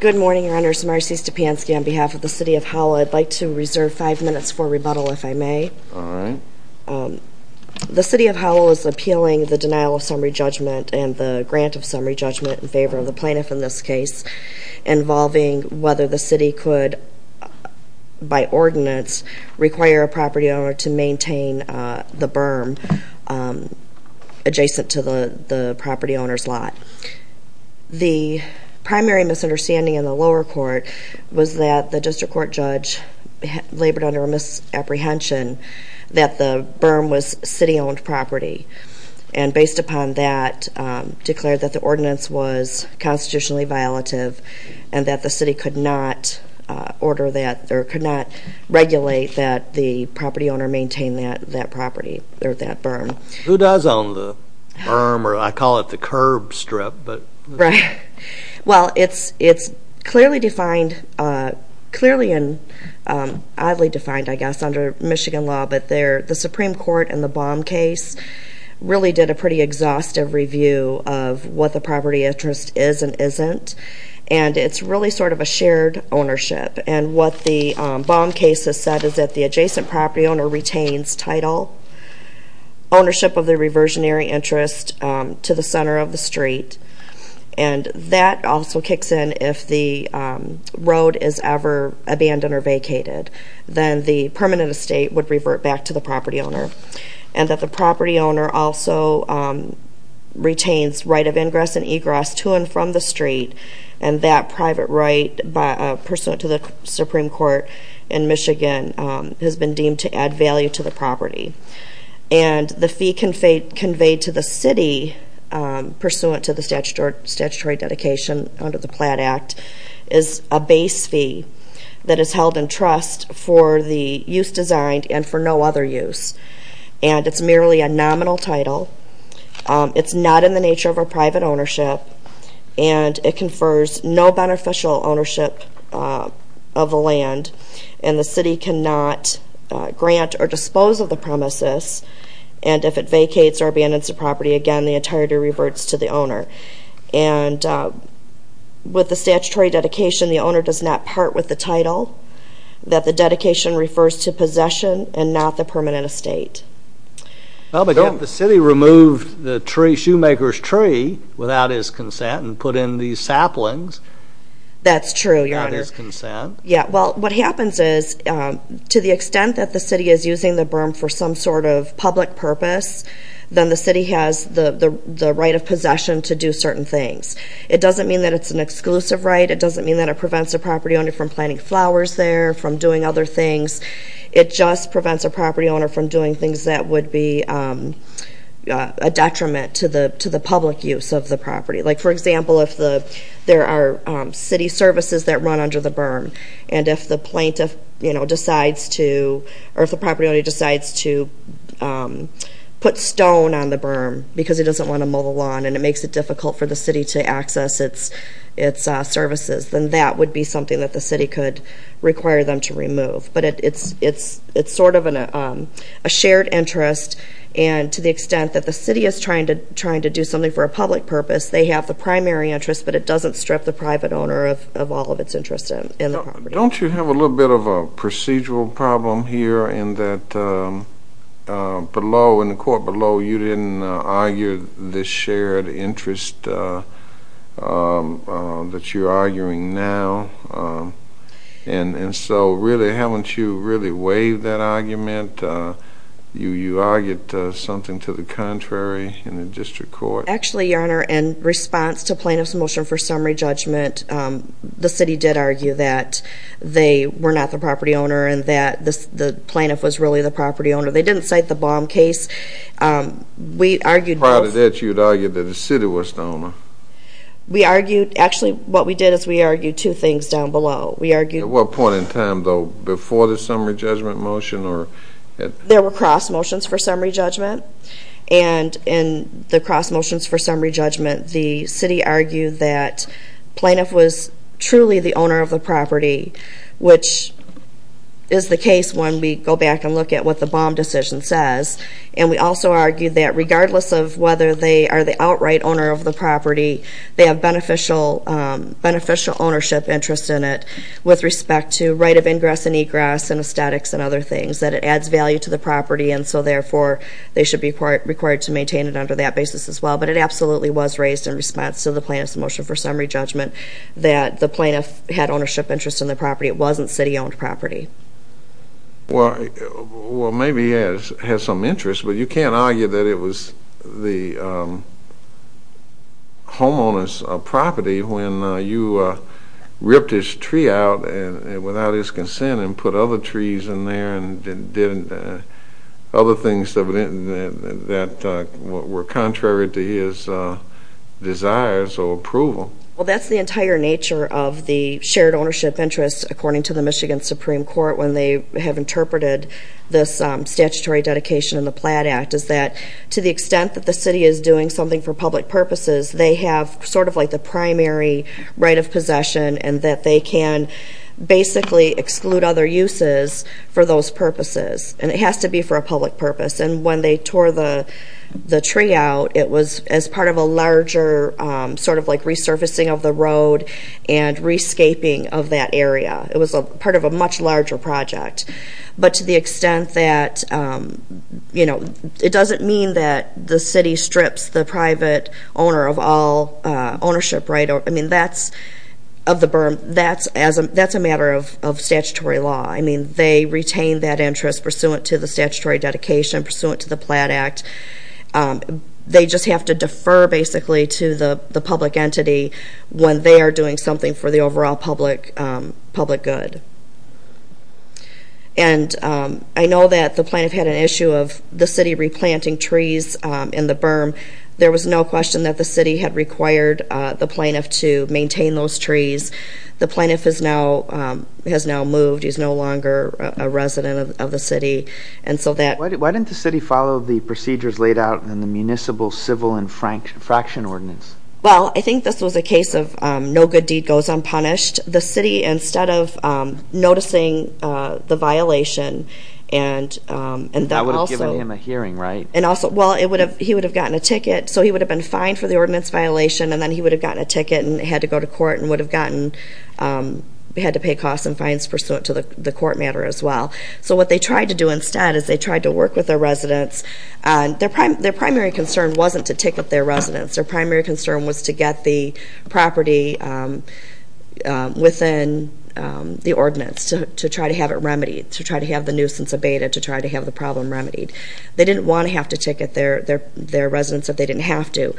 Good morning, Your Honors. Marcy Stepanski on behalf of the City of Howell. I'd like to reserve five minutes for rebuttal, if I may. The City of Howell is appealing the denial of summary judgment and the grant of summary judgment in favor of the plaintiff in this case, involving whether the City could, by ordinance, require a property owner to maintain the berm adjacent to the property owner's lot. The primary misunderstanding in the lower court was that the district court judge labored under a misapprehension that the berm was city-owned property, and based upon that, declared that the ordinance was constitutionally violative and that the City could not regulate that the property owner maintain that berm. Who does own the berm, or I call it the curb strip? Right. Well, it's clearly defined, clearly and oddly defined, I guess, under Michigan law, but the Supreme Court in the Baum case really did a pretty exhaustive review of what the property interest is and isn't, and it's really sort of a shared ownership. And what the Baum case has said is that the adjacent property owner retains title, ownership of the reversionary interest to the center of the street, and that also kicks in if the road is ever abandoned or vacated, then the permanent estate would revert back to the property owner. And that the property owner also retains right of ingress and egress to and from the street, and that private right, pursuant to the Supreme Court in Michigan, has been deemed to add value to the property. And the fee conveyed to the City, pursuant to the statutory dedication under the Platt Act, is a base fee that is held in trust for the use designed and for no other use. And it's merely a nominal title, it's not in the nature of a private ownership, and it confers no beneficial ownership of the land, and the City cannot grant or dispose of the premises, and if it vacates or abandons the property, again, the entirety reverts to the owner. And with the statutory dedication, the owner does not part with the title, that the dedication refers to possession and not the permanent estate. Well, but if the City removed the shoemaker's tree without his consent and put in these saplings... That's true, Your Honor. ...without his consent... Yeah, well, what happens is, to the extent that the City is using the berm for some sort of public purpose, then the City has the right of possession to do certain things. It doesn't mean that it's an exclusive right, it doesn't mean that it prevents a property owner from planting flowers there, from doing other things, it just prevents a property owner from doing things that would be a detriment to the public use of the property. Like, for example, if there are City services that run under the berm, and if the property owner decides to put stone on the berm because he doesn't want to mow the lawn and it makes it difficult for the City to access its services, then that would be something that the City could require them to remove. But it's sort of a shared interest, and to the extent that the City is trying to do something for a public purpose, they have the primary interest, but it doesn't strip the private owner of all of its interest in the property. Don't you have a little bit of a procedural problem here in that below, in the court below, you didn't argue this shared interest that you're arguing now? And so really, haven't you really waived that argument? You argued something to the contrary in the district court? Actually, Your Honor, in response to plaintiff's motion for summary judgment, the City did argue that they were not the property owner and that the plaintiff was really the property owner. They didn't cite the bomb case. We argued both. Prior to that, you had argued that the City was the owner. We argued, actually, what we did is we argued two things down below. At what point in time, though, before the summary judgment motion? There were cross motions for summary judgment, and in the cross motions for summary judgment, the City argued that plaintiff was truly the owner of the property, which is the case when we go back and look at what the bomb decision says. And we also argued that regardless of whether they are the outright owner of the property, they have beneficial ownership interest in it with respect to right of ingress and egress and aesthetics and other things, that it adds value to the property, and so therefore they should be required to maintain it under that basis as well. But it absolutely was raised in response to the plaintiff's motion for summary judgment that the plaintiff had ownership interest in the property. It wasn't City-owned property. Well, maybe he has some interest, but you can't argue that it was the homeowner's property when you ripped his tree out without his consent and put other trees in there and did other things that were contrary to his desires or approval. Well, that's the entire nature of the shared ownership interest, according to the Michigan Supreme Court, when they have interpreted this statutory dedication in the Platt Act, is that to the extent that the City is doing something for public purposes, they have sort of like the primary right of possession, and that they can basically exclude other uses for those purposes. And it has to be for a public purpose. And when they tore the tree out, it was as part of a larger sort of like resurfacing of the road and rescaping of that area. It was part of a much larger project. But to the extent that, you know, it doesn't mean that the City strips the private owner of all ownership, right? I mean, that's a matter of statutory law. I mean, they retain that interest pursuant to the statutory dedication, pursuant to the Platt Act. They just have to defer, basically, to the public entity when they are doing something for the overall public good. And I know that the plaintiff had an issue of the City replanting trees in the berm. There was no question that the City had required the plaintiff to maintain those trees. The plaintiff has now moved. He's no longer a resident of the City. Why didn't the City follow the procedures laid out in the Municipal Civil Infraction Ordinance? Well, I think this was a case of no good deed goes unpunished. The City, instead of noticing the violation, and also... That would have given him a hearing, right? Well, he would have gotten a ticket, so he would have been fined for the ordinance violation, and then he would have gotten a ticket and had to go to court and would have gotten... had to pay costs and fines pursuant to the court matter as well. So what they tried to do instead is they tried to work with their residents. Their primary concern wasn't to ticket their residents. Their primary concern was to get the property within the ordinance, to try to have it remedied, to try to have the nuisance abated, to try to have the problem remedied. They didn't want to have to ticket their residents if they didn't have to.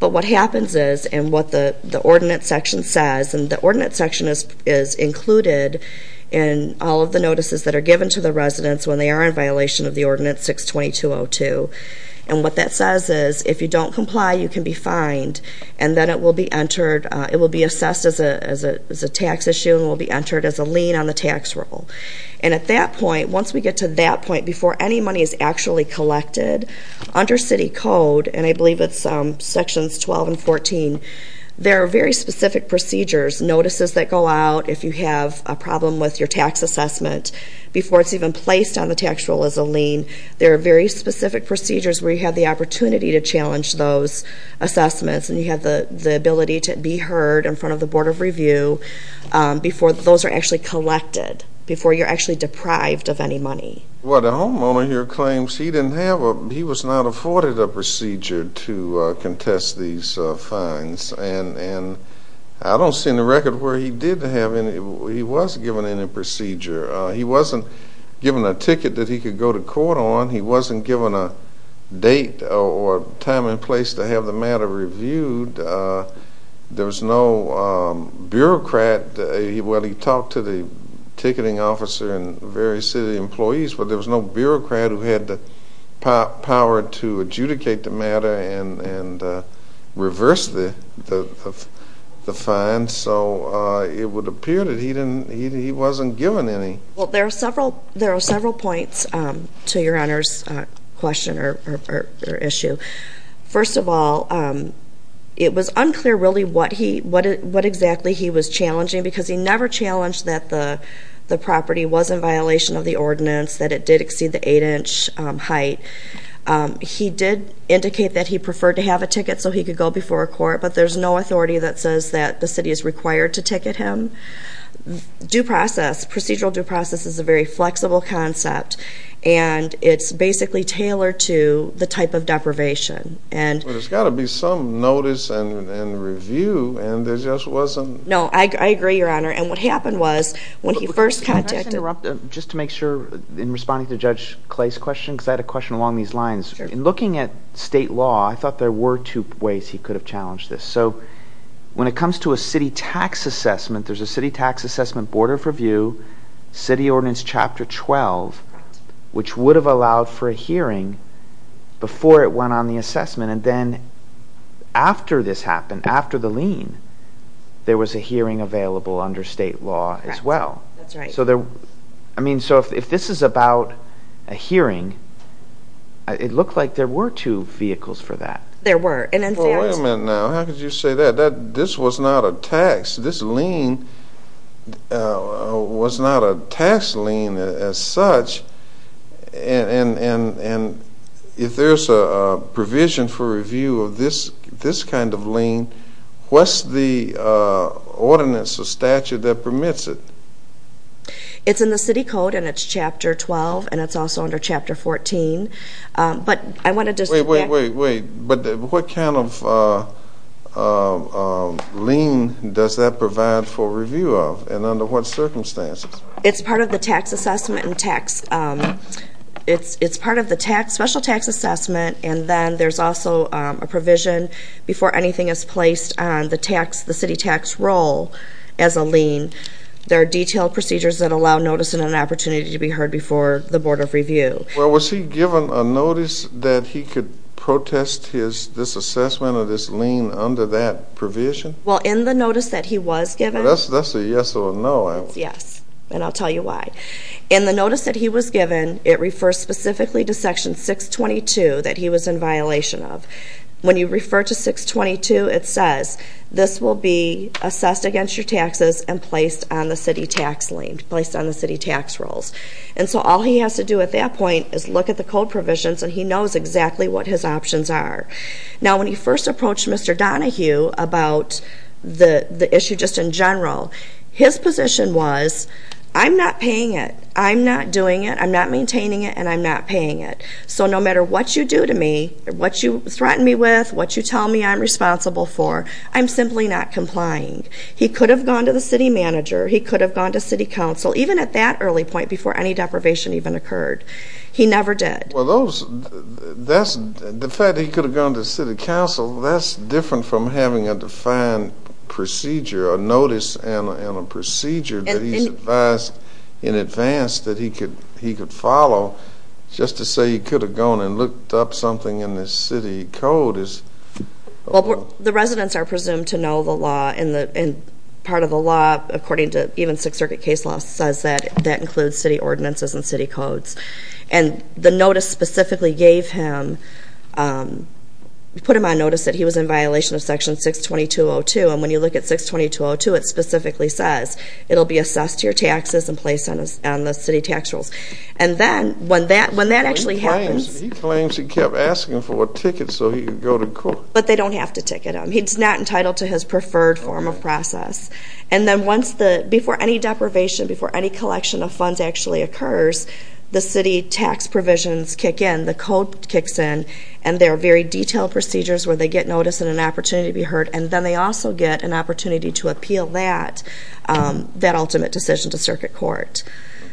But what happens is, and what the ordinance section says, and the ordinance section is included in all of the notices that are given to the residents when they are in violation of the Ordinance 622.02, and what that says is, if you don't comply, you can be fined, and then it will be assessed as a tax issue and will be entered as a lien on the tax roll. And at that point, once we get to that point, before any money is actually collected, under city code, and I believe it's sections 12 and 14, there are very specific procedures, notices that go out if you have a problem with your tax assessment, before it's even placed on the tax roll as a lien. There are very specific procedures where you have the opportunity to challenge those assessments and you have the ability to be heard in front of the Board of Review before those are actually collected, before you're actually deprived of any money. Well, the homeowner here claims he was not afforded a procedure to contest these fines, and I don't see in the record where he was given any procedure. He wasn't given a ticket that he could go to court on. He wasn't given a date or time and place to have the matter reviewed. There was no bureaucrat. Well, he talked to the ticketing officer and various city employees, but there was no bureaucrat who had the power to adjudicate the matter and reverse the fines. So it would appear that he wasn't given any. Well, there are several points to Your Honor's question or issue. First of all, it was unclear really what exactly he was challenging because he never challenged that the property was in violation of the ordinance, that it did exceed the 8-inch height. He did indicate that he preferred to have a ticket so he could go before a court, but there's no authority that says that the city is required to ticket him. Procedural due process is a very flexible concept, and it's basically tailored to the type of deprivation. Well, there's got to be some notice and review, and there just wasn't. No, I agree, Your Honor, and what happened was when he first contacted... Can I just interrupt just to make sure in responding to Judge Clay's question because I had a question along these lines. In looking at state law, I thought there were two ways he could have challenged this. So when it comes to a city tax assessment, there's a city tax assessment, Board of Review, City Ordinance Chapter 12, which would have allowed for a hearing before it went on the assessment, and then after this happened, after the lien, there was a hearing available under state law as well. That's right. I mean, so if this is about a hearing, it looked like there were two vehicles for that. There were. Well, wait a minute now. How could you say that? This was not a tax. This lien was not a tax lien as such, and if there's a provision for review of this kind of lien, what's the ordinance or statute that permits it? It's in the city code, and it's Chapter 12, and it's also under Chapter 14. Wait, wait, wait, wait. But what kind of lien does that provide for review of, and under what circumstances? It's part of the tax assessment and tax. It's part of the special tax assessment, and then there's also a provision before anything is placed on the city tax roll as a lien. There are detailed procedures that allow notice and an opportunity to be heard before the Board of Review. Well, was he given a notice that he could protest this assessment or this lien under that provision? Well, in the notice that he was given. That's a yes or a no, I would say. Yes, and I'll tell you why. In the notice that he was given, it refers specifically to Section 622 that he was in violation of. When you refer to 622, it says, this will be assessed against your taxes and placed on the city tax lien, placed on the city tax rolls. And so all he has to do at that point is look at the code provisions, and he knows exactly what his options are. Now, when he first approached Mr. Donohue about the issue just in general, his position was, I'm not paying it, I'm not doing it, I'm not maintaining it, and I'm not paying it. So no matter what you do to me, what you threaten me with, what you tell me I'm responsible for, I'm simply not complying. He could have gone to the city manager. He could have gone to city council, even at that early point before any deprivation even occurred. He never did. Well, the fact that he could have gone to city council, that's different from having a defined procedure, a notice and a procedure that he's advised in advance that he could follow. Just to say he could have gone and looked up something in the city code is... Well, the residents are presumed to know the law, and part of the law, according to even Sixth Circuit case law, says that that includes city ordinances and city codes. And the notice specifically gave him, put him on notice that he was in violation of Section 622.02. And when you look at 622.02, it specifically says it will be assessed to your taxes and placed on the city tax rolls. And then when that actually happens... He claims he kept asking for a ticket so he could go to court. But they don't have to ticket him. He's not entitled to his preferred form of process. And then before any deprivation, before any collection of funds actually occurs, the city tax provisions kick in, the code kicks in, and there are very detailed procedures where they get notice and an opportunity to be heard, and then they also get an opportunity to appeal that ultimate decision to circuit court.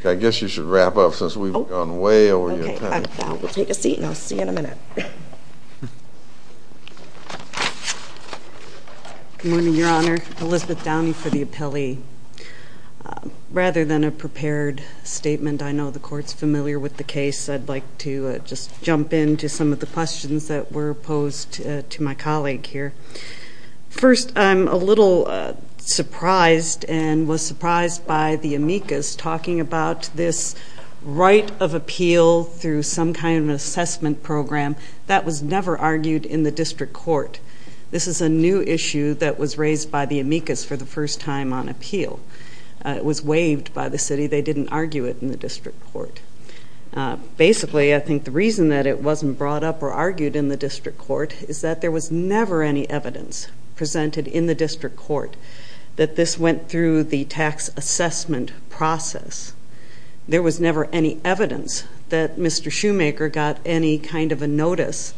I guess you should wrap up since we've gone way over your time. We'll take a seat, and I'll see you in a minute. Good morning, Your Honor. Elizabeth Downey for the appellee. Rather than a prepared statement, I know the Court's familiar with the case. I'd like to just jump in to some of the questions that were posed to my colleague here. First, I'm a little surprised and was surprised by the amicus talking about this right of appeal through some kind of assessment program. That was never argued in the district court. This is a new issue that was raised by the amicus for the first time on appeal. It was waived by the city. They didn't argue it in the district court. Basically, I think the reason that it wasn't brought up or argued in the district court is that there was never any evidence presented in the district court that this went through the tax assessment process. There was never any evidence that Mr. Shoemaker got any kind of a notice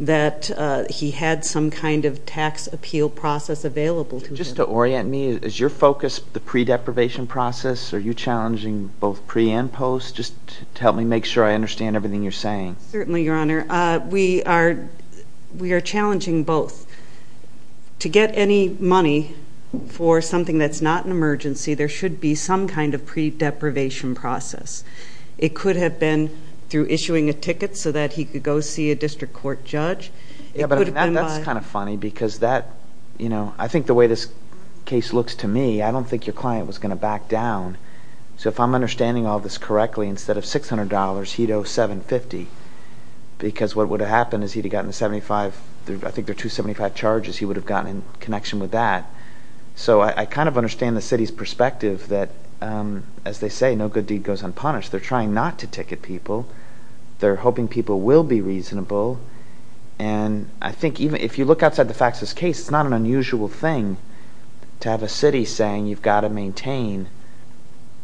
that he had some kind of tax appeal process available to him. Just to orient me, is your focus the pre-deprivation process? Are you challenging both pre and post? Just to help me make sure I understand everything you're saying. Certainly, Your Honor. We are challenging both. To get any money for something that's not an emergency, there should be some kind of pre-deprivation process. It could have been through issuing a ticket so that he could go see a district court judge. That's kind of funny because I think the way this case looks to me, I don't think your client was going to back down. If I'm understanding all this correctly, instead of $600, he'd owe $750 because what would have happened is he'd have gotten 75, I think there are 275 charges he would have gotten in connection with that. So I kind of understand the city's perspective that, as they say, no good deed goes unpunished. They're trying not to ticket people. They're hoping people will be reasonable. And I think if you look outside the facts of this case, it's not an unusual thing to have a city saying you've got to maintain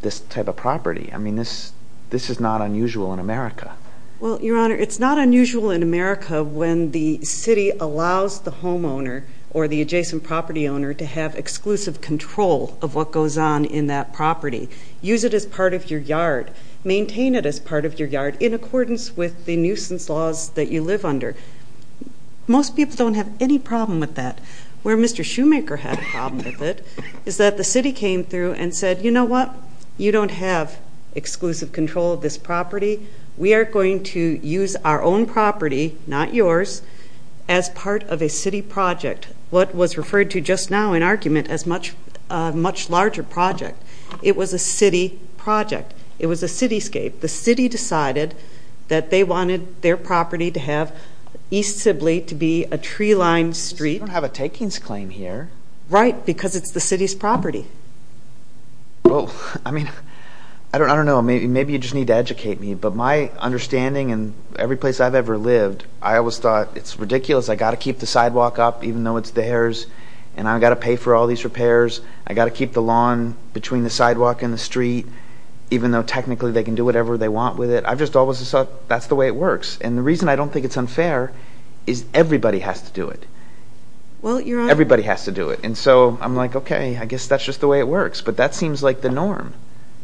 this type of property. I mean, this is not unusual in America. Well, Your Honor, it's not unusual in America when the city allows the homeowner or the adjacent property owner to have exclusive control of what goes on in that property. Use it as part of your yard. Maintain it as part of your yard in accordance with the nuisance laws that you live under. Most people don't have any problem with that. Where Mr. Shoemaker had a problem with it is that the city came through and said, you know what, you don't have exclusive control of this property. We are going to use our own property, not yours, as part of a city project, what was referred to just now in argument as a much larger project. It was a city project. It was a cityscape. The city decided that they wanted their property to have East Sibley to be a tree-lined street. We don't have a takings claim here. Right, because it's the city's property. Well, I mean, I don't know. Maybe you just need to educate me, but my understanding in every place I've ever lived, I always thought it's ridiculous. I've got to keep the sidewalk up even though it's theirs, and I've got to pay for all these repairs. I've got to keep the lawn between the sidewalk and the street, even though technically they can do whatever they want with it. I've just always thought that's the way it works. And the reason I don't think it's unfair is everybody has to do it. Everybody has to do it. And so I'm like, okay, I guess that's just the way it works. But that seems like the norm.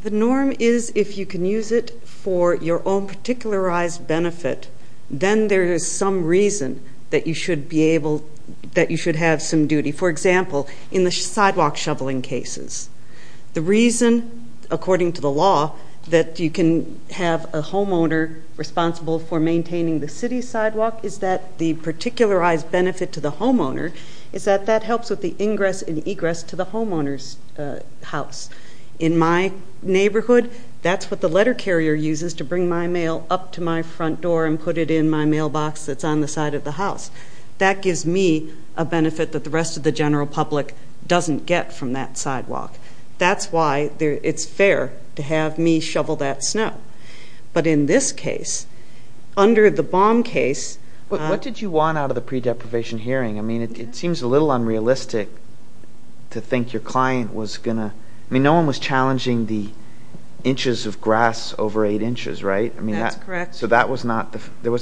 The norm is if you can use it for your own particularized benefit, then there is some reason that you should have some duty. For example, in the sidewalk shoveling cases, the reason, according to the law, that you can have a homeowner responsible for maintaining the city sidewalk is that the particularized benefit to the homeowner is that that helps with the ingress and egress to the homeowner's house. In my neighborhood, that's what the letter carrier uses to bring my mail up to my front door and put it in my mailbox that's on the side of the house. That gives me a benefit that the rest of the general public doesn't get from that sidewalk. That's why it's fair to have me shovel that snow. But in this case, under the bomb case... What did you want out of the pre-deprivation hearing? I mean, it seems a little unrealistic to think your client was going to... I mean, no one was challenging the inches of grass over 8 inches, right? That's correct. So there wasn't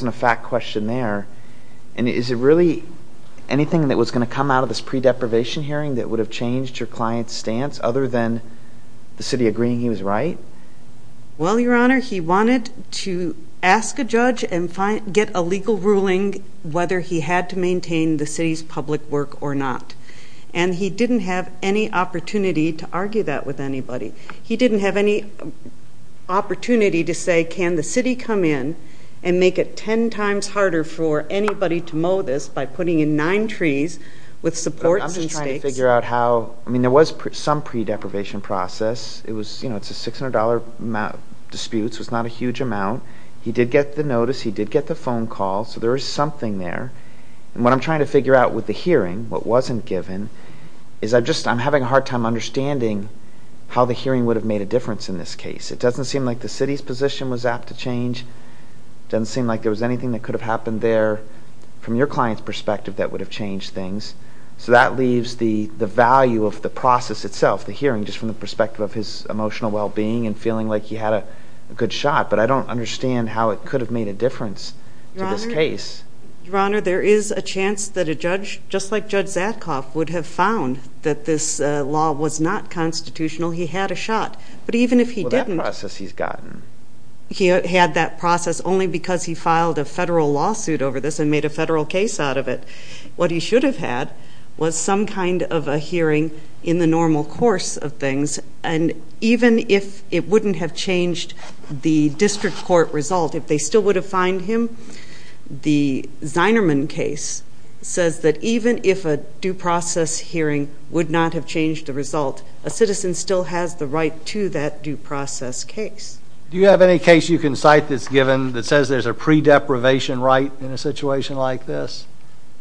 a fact question there. And is it really anything that was going to come out of this pre-deprivation hearing that would have changed your client's stance other than the city agreeing he was right? Well, Your Honor, he wanted to ask a judge and get a legal ruling whether he had to maintain the city's public work or not. And he didn't have any opportunity to argue that with anybody. He didn't have any opportunity to say, can the city come in and make it 10 times harder for anybody to mow this by putting in 9 trees with supports and stakes? I'm just trying to figure out how... I mean, there was some pre-deprivation process. It's a $600 dispute, so it's not a huge amount. He did get the notice. He did get the phone call. So there was something there. And what I'm trying to figure out with the hearing, what wasn't given, is I'm having a hard time understanding how the hearing would have made a difference in this case. It doesn't seem like the city's position was apt to change. It doesn't seem like there was anything that could have happened there from your client's perspective that would have changed things. So that leaves the value of the process itself, the hearing, just from the perspective of his emotional well-being and feeling like he had a good shot. But I don't understand how it could have made a difference to this case. Your Honor, there is a chance that a judge, just like Judge Zadkoff, would have found that this law was not constitutional. He had a shot. But even if he didn't... Well, that process he's gotten. He had that process only because he filed a federal lawsuit over this and made a federal case out of it. What he should have had was some kind of a hearing in the normal course of things. And even if it wouldn't have changed the district court result, if they still would have fined him, the Zinerman case says that even if a due process hearing would not have changed the result, a citizen still has the right to that due process case. Do you have any case you can cite that's given that says there's a pre-deprivation right in a situation like this?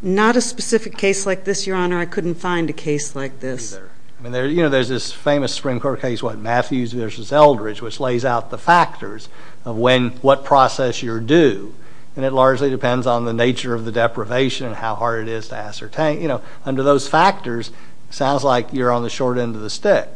Not a specific case like this, Your Honor. I couldn't find a case like this. There's this famous Supreme Court case, what, Matthews v. Eldridge, which lays out the factors of what process you're due. And it largely depends on the nature of the deprivation and how hard it is to ascertain. Under those factors, it sounds like you're on the short end of the stick.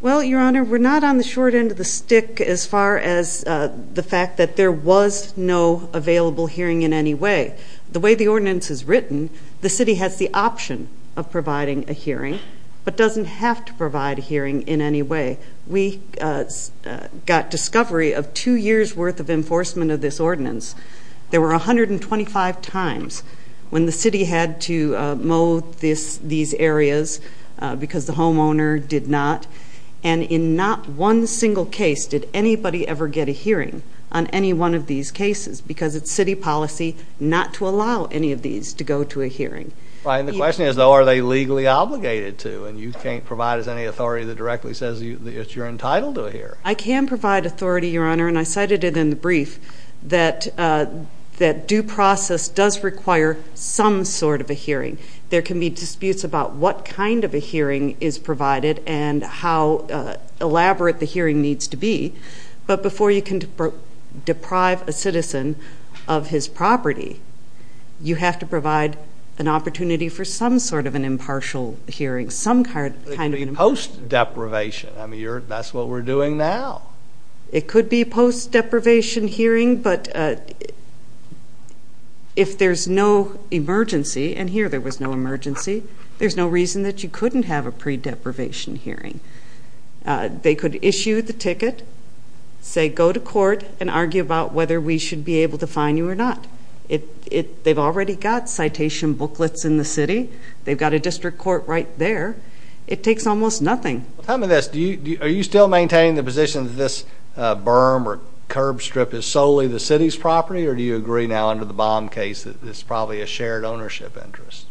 Well, Your Honor, we're not on the short end of the stick as far as the fact that there was no available hearing in any way. The way the ordinance is written, the city has the option of providing a hearing but doesn't have to provide a hearing in any way. We got discovery of two years' worth of enforcement of this ordinance. There were 125 times when the city had to mow these areas because the homeowner did not. And in not one single case did anybody ever get a hearing on any one of these cases because it's city policy not to allow any of these to go to a hearing. And the question is, though, are they legally obligated to? And you can't provide us any authority that directly says that you're entitled to a hearing. I can provide authority, Your Honor, and I cited it in the brief, that due process does require some sort of a hearing. There can be disputes about what kind of a hearing is provided and how elaborate the hearing needs to be. But before you can deprive a citizen of his property, you have to provide an opportunity for some sort of an impartial hearing, some kind of an impartial hearing. It could be post-deprivation. I mean, that's what we're doing now. It could be post-deprivation hearing, but if there's no emergency, and here there was no emergency, there's no reason that you couldn't have a pre-deprivation hearing. They could issue the ticket, say go to court, and argue about whether we should be able to fine you or not. They've already got citation booklets in the city. They've got a district court right there. It takes almost nothing. Tell me this. Are you still maintaining the position that this berm or curb strip is solely the city's property, or do you agree now under the Baum case that it's probably a shared ownership interest?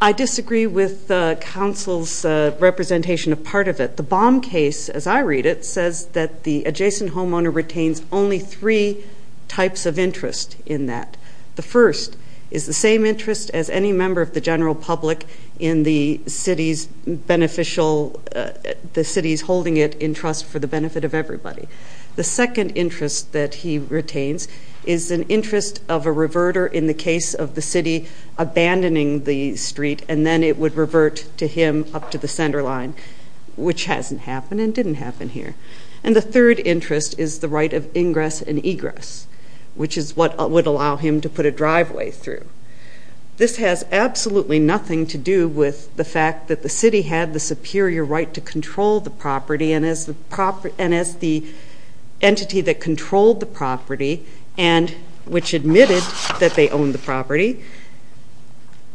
I disagree with the council's representation of part of it. The Baum case, as I read it, says that the adjacent homeowner retains only three types of interest in that. The first is the same interest as any member of the general public in the city's beneficial, the city's holding it in trust for the benefit of everybody. The second interest that he retains is an interest of a reverter in the case of the city abandoning the street, and then it would revert to him up to the center line, which hasn't happened and didn't happen here. And the third interest is the right of ingress and egress, which is what would allow him to put a driveway through. This has absolutely nothing to do with the fact that the city had the superior right to control the property, and as the entity that controlled the property and which admitted that they owned the property.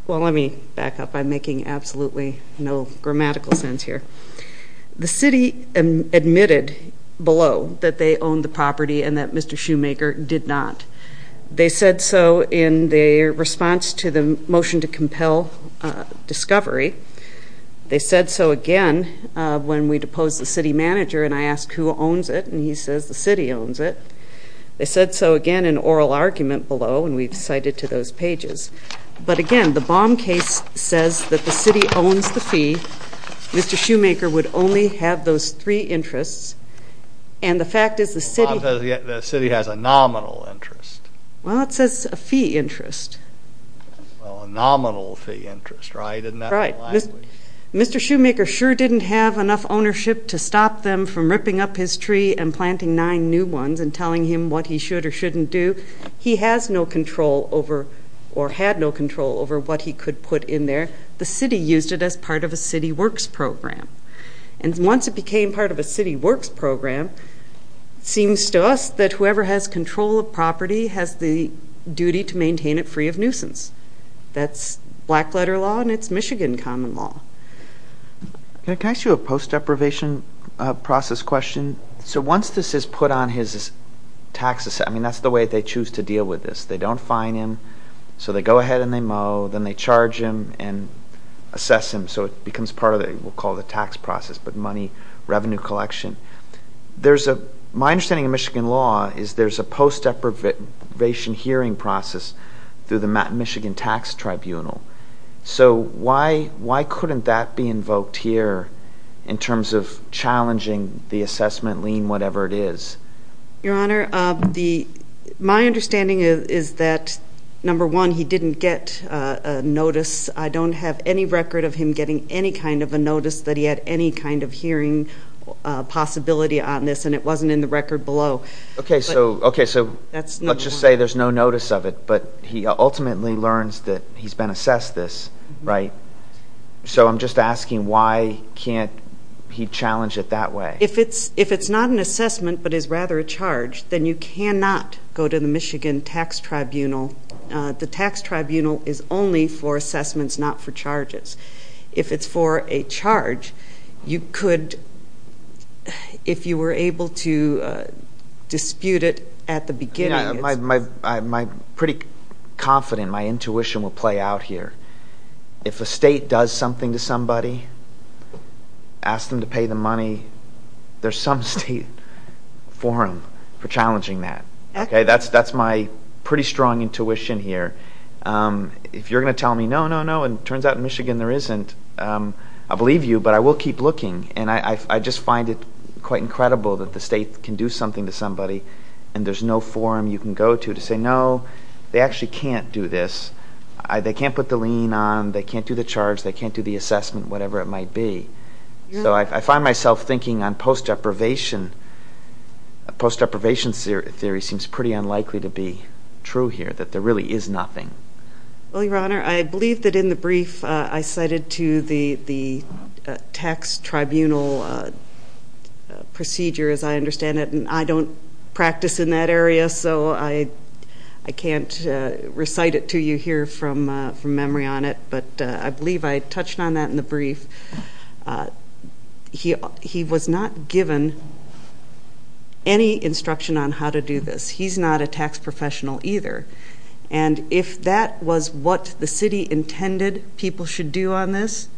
Well, let me back up. I'm making absolutely no grammatical sense here. The city admitted below that they owned the property and that Mr. Shoemaker did not. They said so in their response to the motion to compel discovery. They said so again when we deposed the city manager and I asked who owns it, and he says the city owns it. They said so again in oral argument below, and we've cited to those pages. But again, the Baum case says that the city owns the fee. Mr. Shoemaker would only have those three interests. And the fact is the city has a nominal interest. Well, it says a fee interest. Well, a nominal fee interest, right? Right. Mr. Shoemaker sure didn't have enough ownership to stop them from ripping up his tree and planting nine new ones and telling him what he should or shouldn't do. He has no control over or had no control over what he could put in there. The city used it as part of a city works program. And once it became part of a city works program, it seems to us that whoever has control of property has the duty to maintain it free of nuisance. That's black letter law, and it's Michigan common law. Can I ask you a post deprivation process question? So once this is put on his tax assessment, I mean that's the way they choose to deal with this. They don't fine him, so they go ahead and they mow, then they charge him and assess him, so it becomes part of what we'll call the tax process, but money revenue collection. My understanding of Michigan law is there's a post deprivation hearing process through the Michigan Tax Tribunal. So why couldn't that be invoked here in terms of challenging the assessment lien, whatever it is? Your Honor, my understanding is that, number one, he didn't get a notice. I don't have any record of him getting any kind of a notice that he had any kind of hearing possibility on this, and it wasn't in the record below. Okay, so let's just say there's no notice of it, but he ultimately learns that he's been assessed this, right? So I'm just asking why can't he challenge it that way? If it's not an assessment but is rather a charge, then you cannot go to the Michigan Tax Tribunal. The tax tribunal is only for assessments, not for charges. If it's for a charge, you could, if you were able to dispute it at the beginning. I'm pretty confident my intuition will play out here. If a state does something to somebody, ask them to pay the money, there's some state for him for challenging that. Okay, that's my pretty strong intuition here. If you're going to tell me, no, no, no, and it turns out in Michigan there isn't, I believe you, but I will keep looking. And I just find it quite incredible that the state can do something to somebody, and there's no forum you can go to to say, no, they actually can't do this. They can't put the lien on, they can't do the charge, they can't do the assessment, whatever it might be. So I find myself thinking on post-deprivation theory seems pretty unlikely to be true here, that there really is nothing. Well, Your Honor, I believe that in the brief I cited to the tax tribunal procedure, as I understand it, and I don't practice in that area, so I can't recite it to you here from memory on it. But I believe I touched on that in the brief. He was not given any instruction on how to do this. He's not a tax professional either. And if that was what the city intended people should do on this,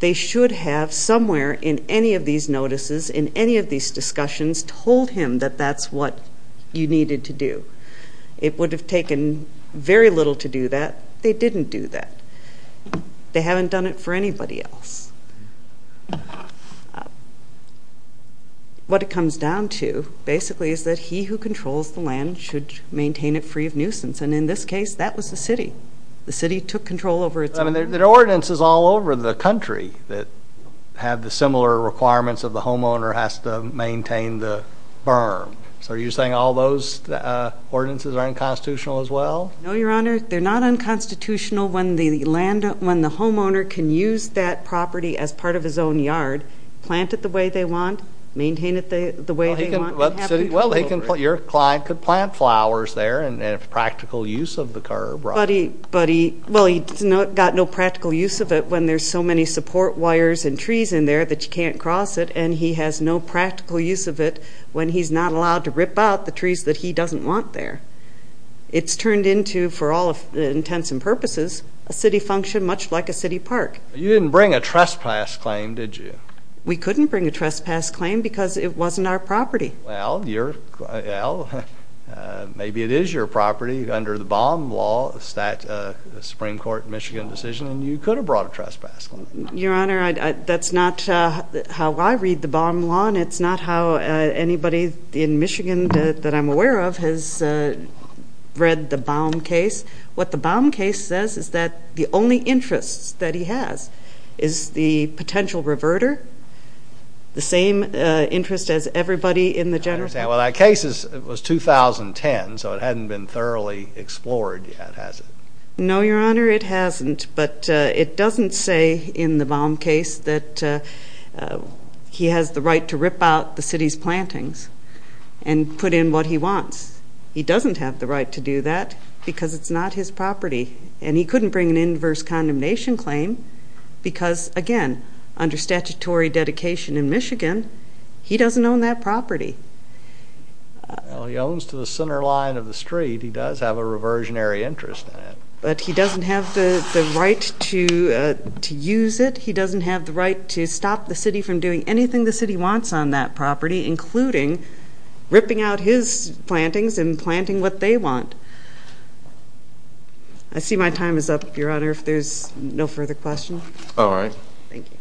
they should have somewhere in any of these notices, in any of these discussions, told him that that's what you needed to do. It would have taken very little to do that. They didn't do that. They haven't done it for anybody else. What it comes down to, basically, is that he who controls the land should maintain it free of nuisance. And in this case, that was the city. The city took control over its own land. There are ordinances all over the country that have the similar requirements of the homeowner has to maintain the berm. So are you saying all those ordinances are unconstitutional as well? No, Your Honor. They're not unconstitutional when the homeowner can use that property as part of his own yard, plant it the way they want, maintain it the way they want. Well, your client could plant flowers there and have practical use of the curb. But he's got no practical use of it when there's so many support wires and trees in there that you can't cross it, and he has no practical use of it when he's not allowed to rip out the trees that he doesn't want there. It's turned into, for all intents and purposes, a city function much like a city park. You didn't bring a trespass claim, did you? We couldn't bring a trespass claim because it wasn't our property. Well, maybe it is your property under the Baum law, the Supreme Court in Michigan decision, and you could have brought a trespass claim. Your Honor, that's not how I read the Baum law, and it's not how anybody in Michigan that I'm aware of has read the Baum case. What the Baum case says is that the only interest that he has is the potential reverter, the same interest as everybody in the general. I understand. Well, that case was 2010, so it hadn't been thoroughly explored yet, has it? No, Your Honor, it hasn't. But it doesn't say in the Baum case that he has the right to rip out the city's plantings and put in what he wants. He doesn't have the right to do that because it's not his property, and he couldn't bring an inverse condemnation claim because, again, under statutory dedication in Michigan, he doesn't own that property. Well, he owns to the center line of the street. He does have a reversionary interest in it. But he doesn't have the right to use it. He doesn't have the right to stop the city from doing anything the city wants on that property, including ripping out his plantings and planting what they want. I see my time is up, Your Honor, if there's no further questions. All right. Thank you.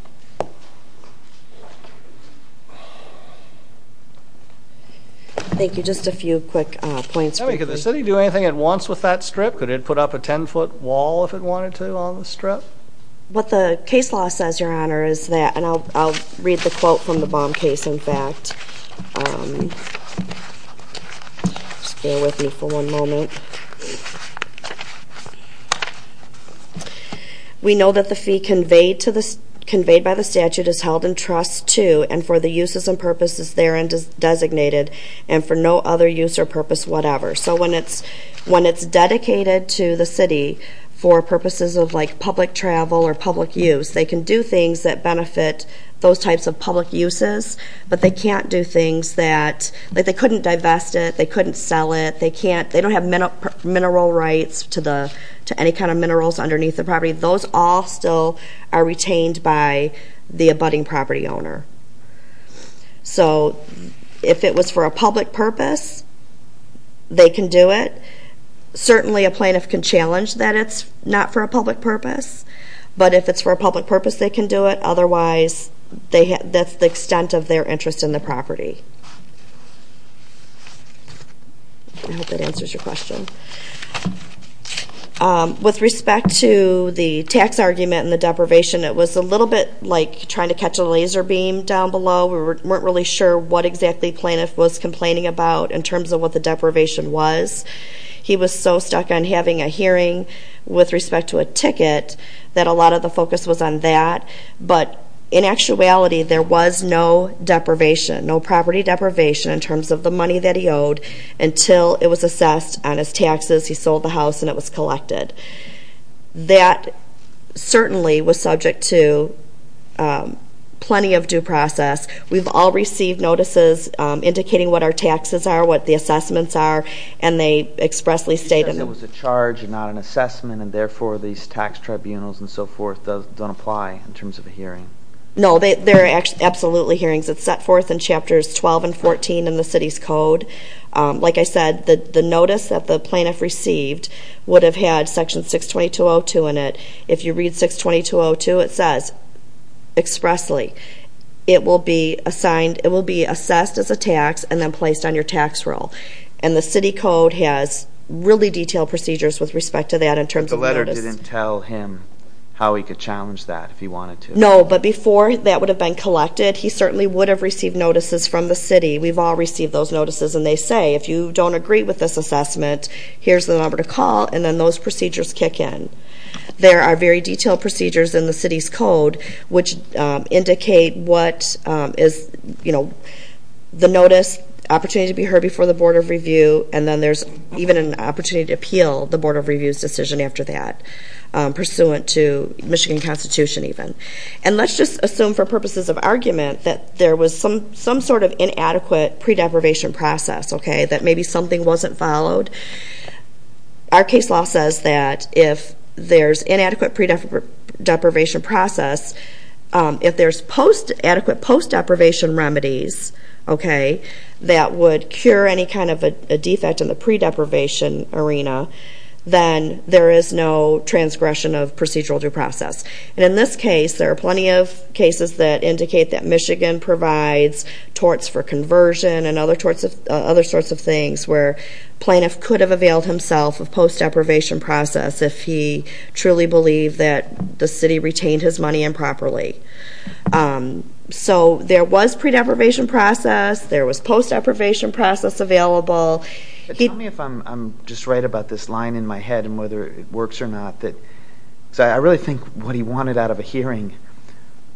Thank you. Just a few quick points. Could the city do anything it wants with that strip? Could it put up a 10-foot wall if it wanted to on the strip? What the case law says, Your Honor, is that, and I'll read the quote from the Baum case, in fact. Just bear with me for one moment. We know that the fee conveyed by the statute is held in trust to and for the uses and purposes therein designated and for no other use or purpose whatever. So when it's dedicated to the city for purposes of, like, public travel or public use, they can do things that benefit those types of public uses, but they can't do things that, like, they couldn't divest it, they couldn't sell it, they don't have mineral rights to any kind of minerals underneath the property. Those all still are retained by the abutting property owner. So if it was for a public purpose, they can do it. Certainly a plaintiff can challenge that it's not for a public purpose, but if it's for a public purpose, they can do it. Otherwise, that's the extent of their interest in the property. I hope that answers your question. With respect to the tax argument and the deprivation, it was a little bit like trying to catch a laser beam down below. We weren't really sure what exactly the plaintiff was complaining about in terms of what the deprivation was. He was so stuck on having a hearing with respect to a ticket that a lot of the focus was on that. But in actuality, there was no deprivation, no property deprivation in terms of the money that he owed until it was assessed on his taxes, he sold the house, and it was collected. That certainly was subject to plenty of due process. We've all received notices indicating what our taxes are, what the assessments are, and they expressly state them. He says it was a charge and not an assessment, and therefore these tax tribunals and so forth don't apply in terms of a hearing. No, they're absolutely hearings. It's set forth in Chapters 12 and 14 in the city's code. Like I said, the notice that the plaintiff received would have had Section 622.02 in it. If you read 622.02, it says expressly, it will be assessed as a tax and then placed on your tax roll. And the city code has really detailed procedures with respect to that in terms of notice. But the letter didn't tell him how he could challenge that if he wanted to. No, but before that would have been collected, he certainly would have received notices from the city. We've all received those notices, and they say, if you don't agree with this assessment, here's the number to call, and then those procedures kick in. There are very detailed procedures in the city's code which indicate what is the notice, opportunity to be heard before the Board of Review, and then there's even an opportunity to appeal the Board of Review's decision after that, pursuant to Michigan Constitution even. And let's just assume for purposes of argument that there was some sort of inadequate pre-deprivation process, that maybe something wasn't followed. Our case law says that if there's inadequate pre-deprivation process, if there's adequate post-deprivation remedies that would cure any kind of a defect in the pre-deprivation arena, then there is no transgression of procedural due process. And in this case, there are plenty of cases that indicate that Michigan provides torts for conversion and other sorts of things where a plaintiff could have availed himself of post-deprivation process if he truly believed that the city retained his money improperly. So there was pre-deprivation process, there was post-deprivation process available. Tell me if I'm just right about this line in my head and whether it works or not. I really think what he wanted out of a hearing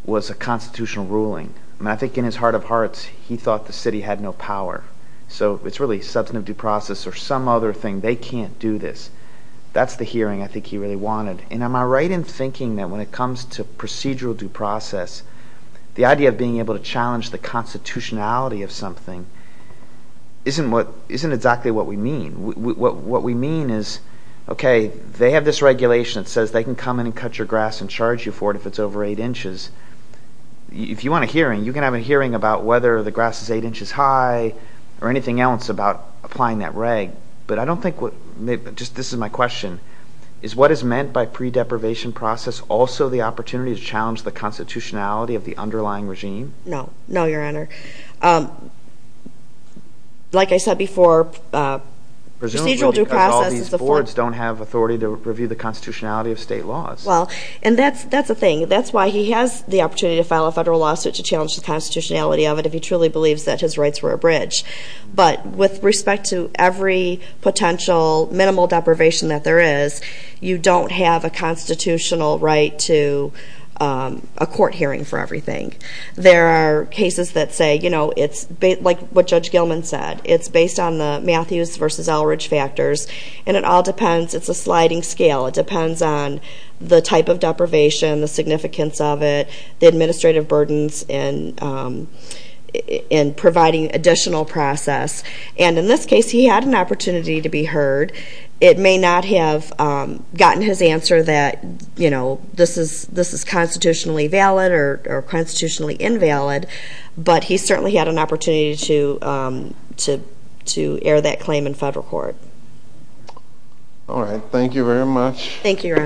was a constitutional ruling. I think in his heart of hearts, he thought the city had no power. So it's really substantive due process or some other thing. They can't do this. That's the hearing I think he really wanted. And am I right in thinking that when it comes to procedural due process, the idea of being able to challenge the constitutionality of something isn't exactly what we mean. What we mean is, okay, they have this regulation that says they can come in and cut your grass and charge you for it if it's over 8 inches. If you want a hearing, you can have a hearing about whether the grass is 8 inches high or anything else about applying that reg. But I don't think what – just this is my question. Is what is meant by pre-deprivation process also the opportunity to challenge the constitutionality of the underlying regime? No. No, Your Honor. Like I said before, procedural due process is a – Presumably because all these boards don't have authority to review the constitutionality of state laws. Well, and that's a thing. That's why he has the opportunity to file a federal lawsuit to challenge the constitutionality of it if he truly believes that his rights were abridged. But with respect to every potential minimal deprivation that there is, you don't have a constitutional right to a court hearing for everything. There are cases that say, you know, it's like what Judge Gilman said. It's based on the Matthews v. Elridge factors. And it all depends – it's a sliding scale. It depends on the type of deprivation, the significance of it, the administrative burdens in providing additional process. And in this case, he had an opportunity to be heard. It may not have gotten his answer that, you know, this is constitutionally valid or constitutionally invalid, but he certainly had an opportunity to air that claim in federal court. All right. Thank you very much. Thank you, Your Honors.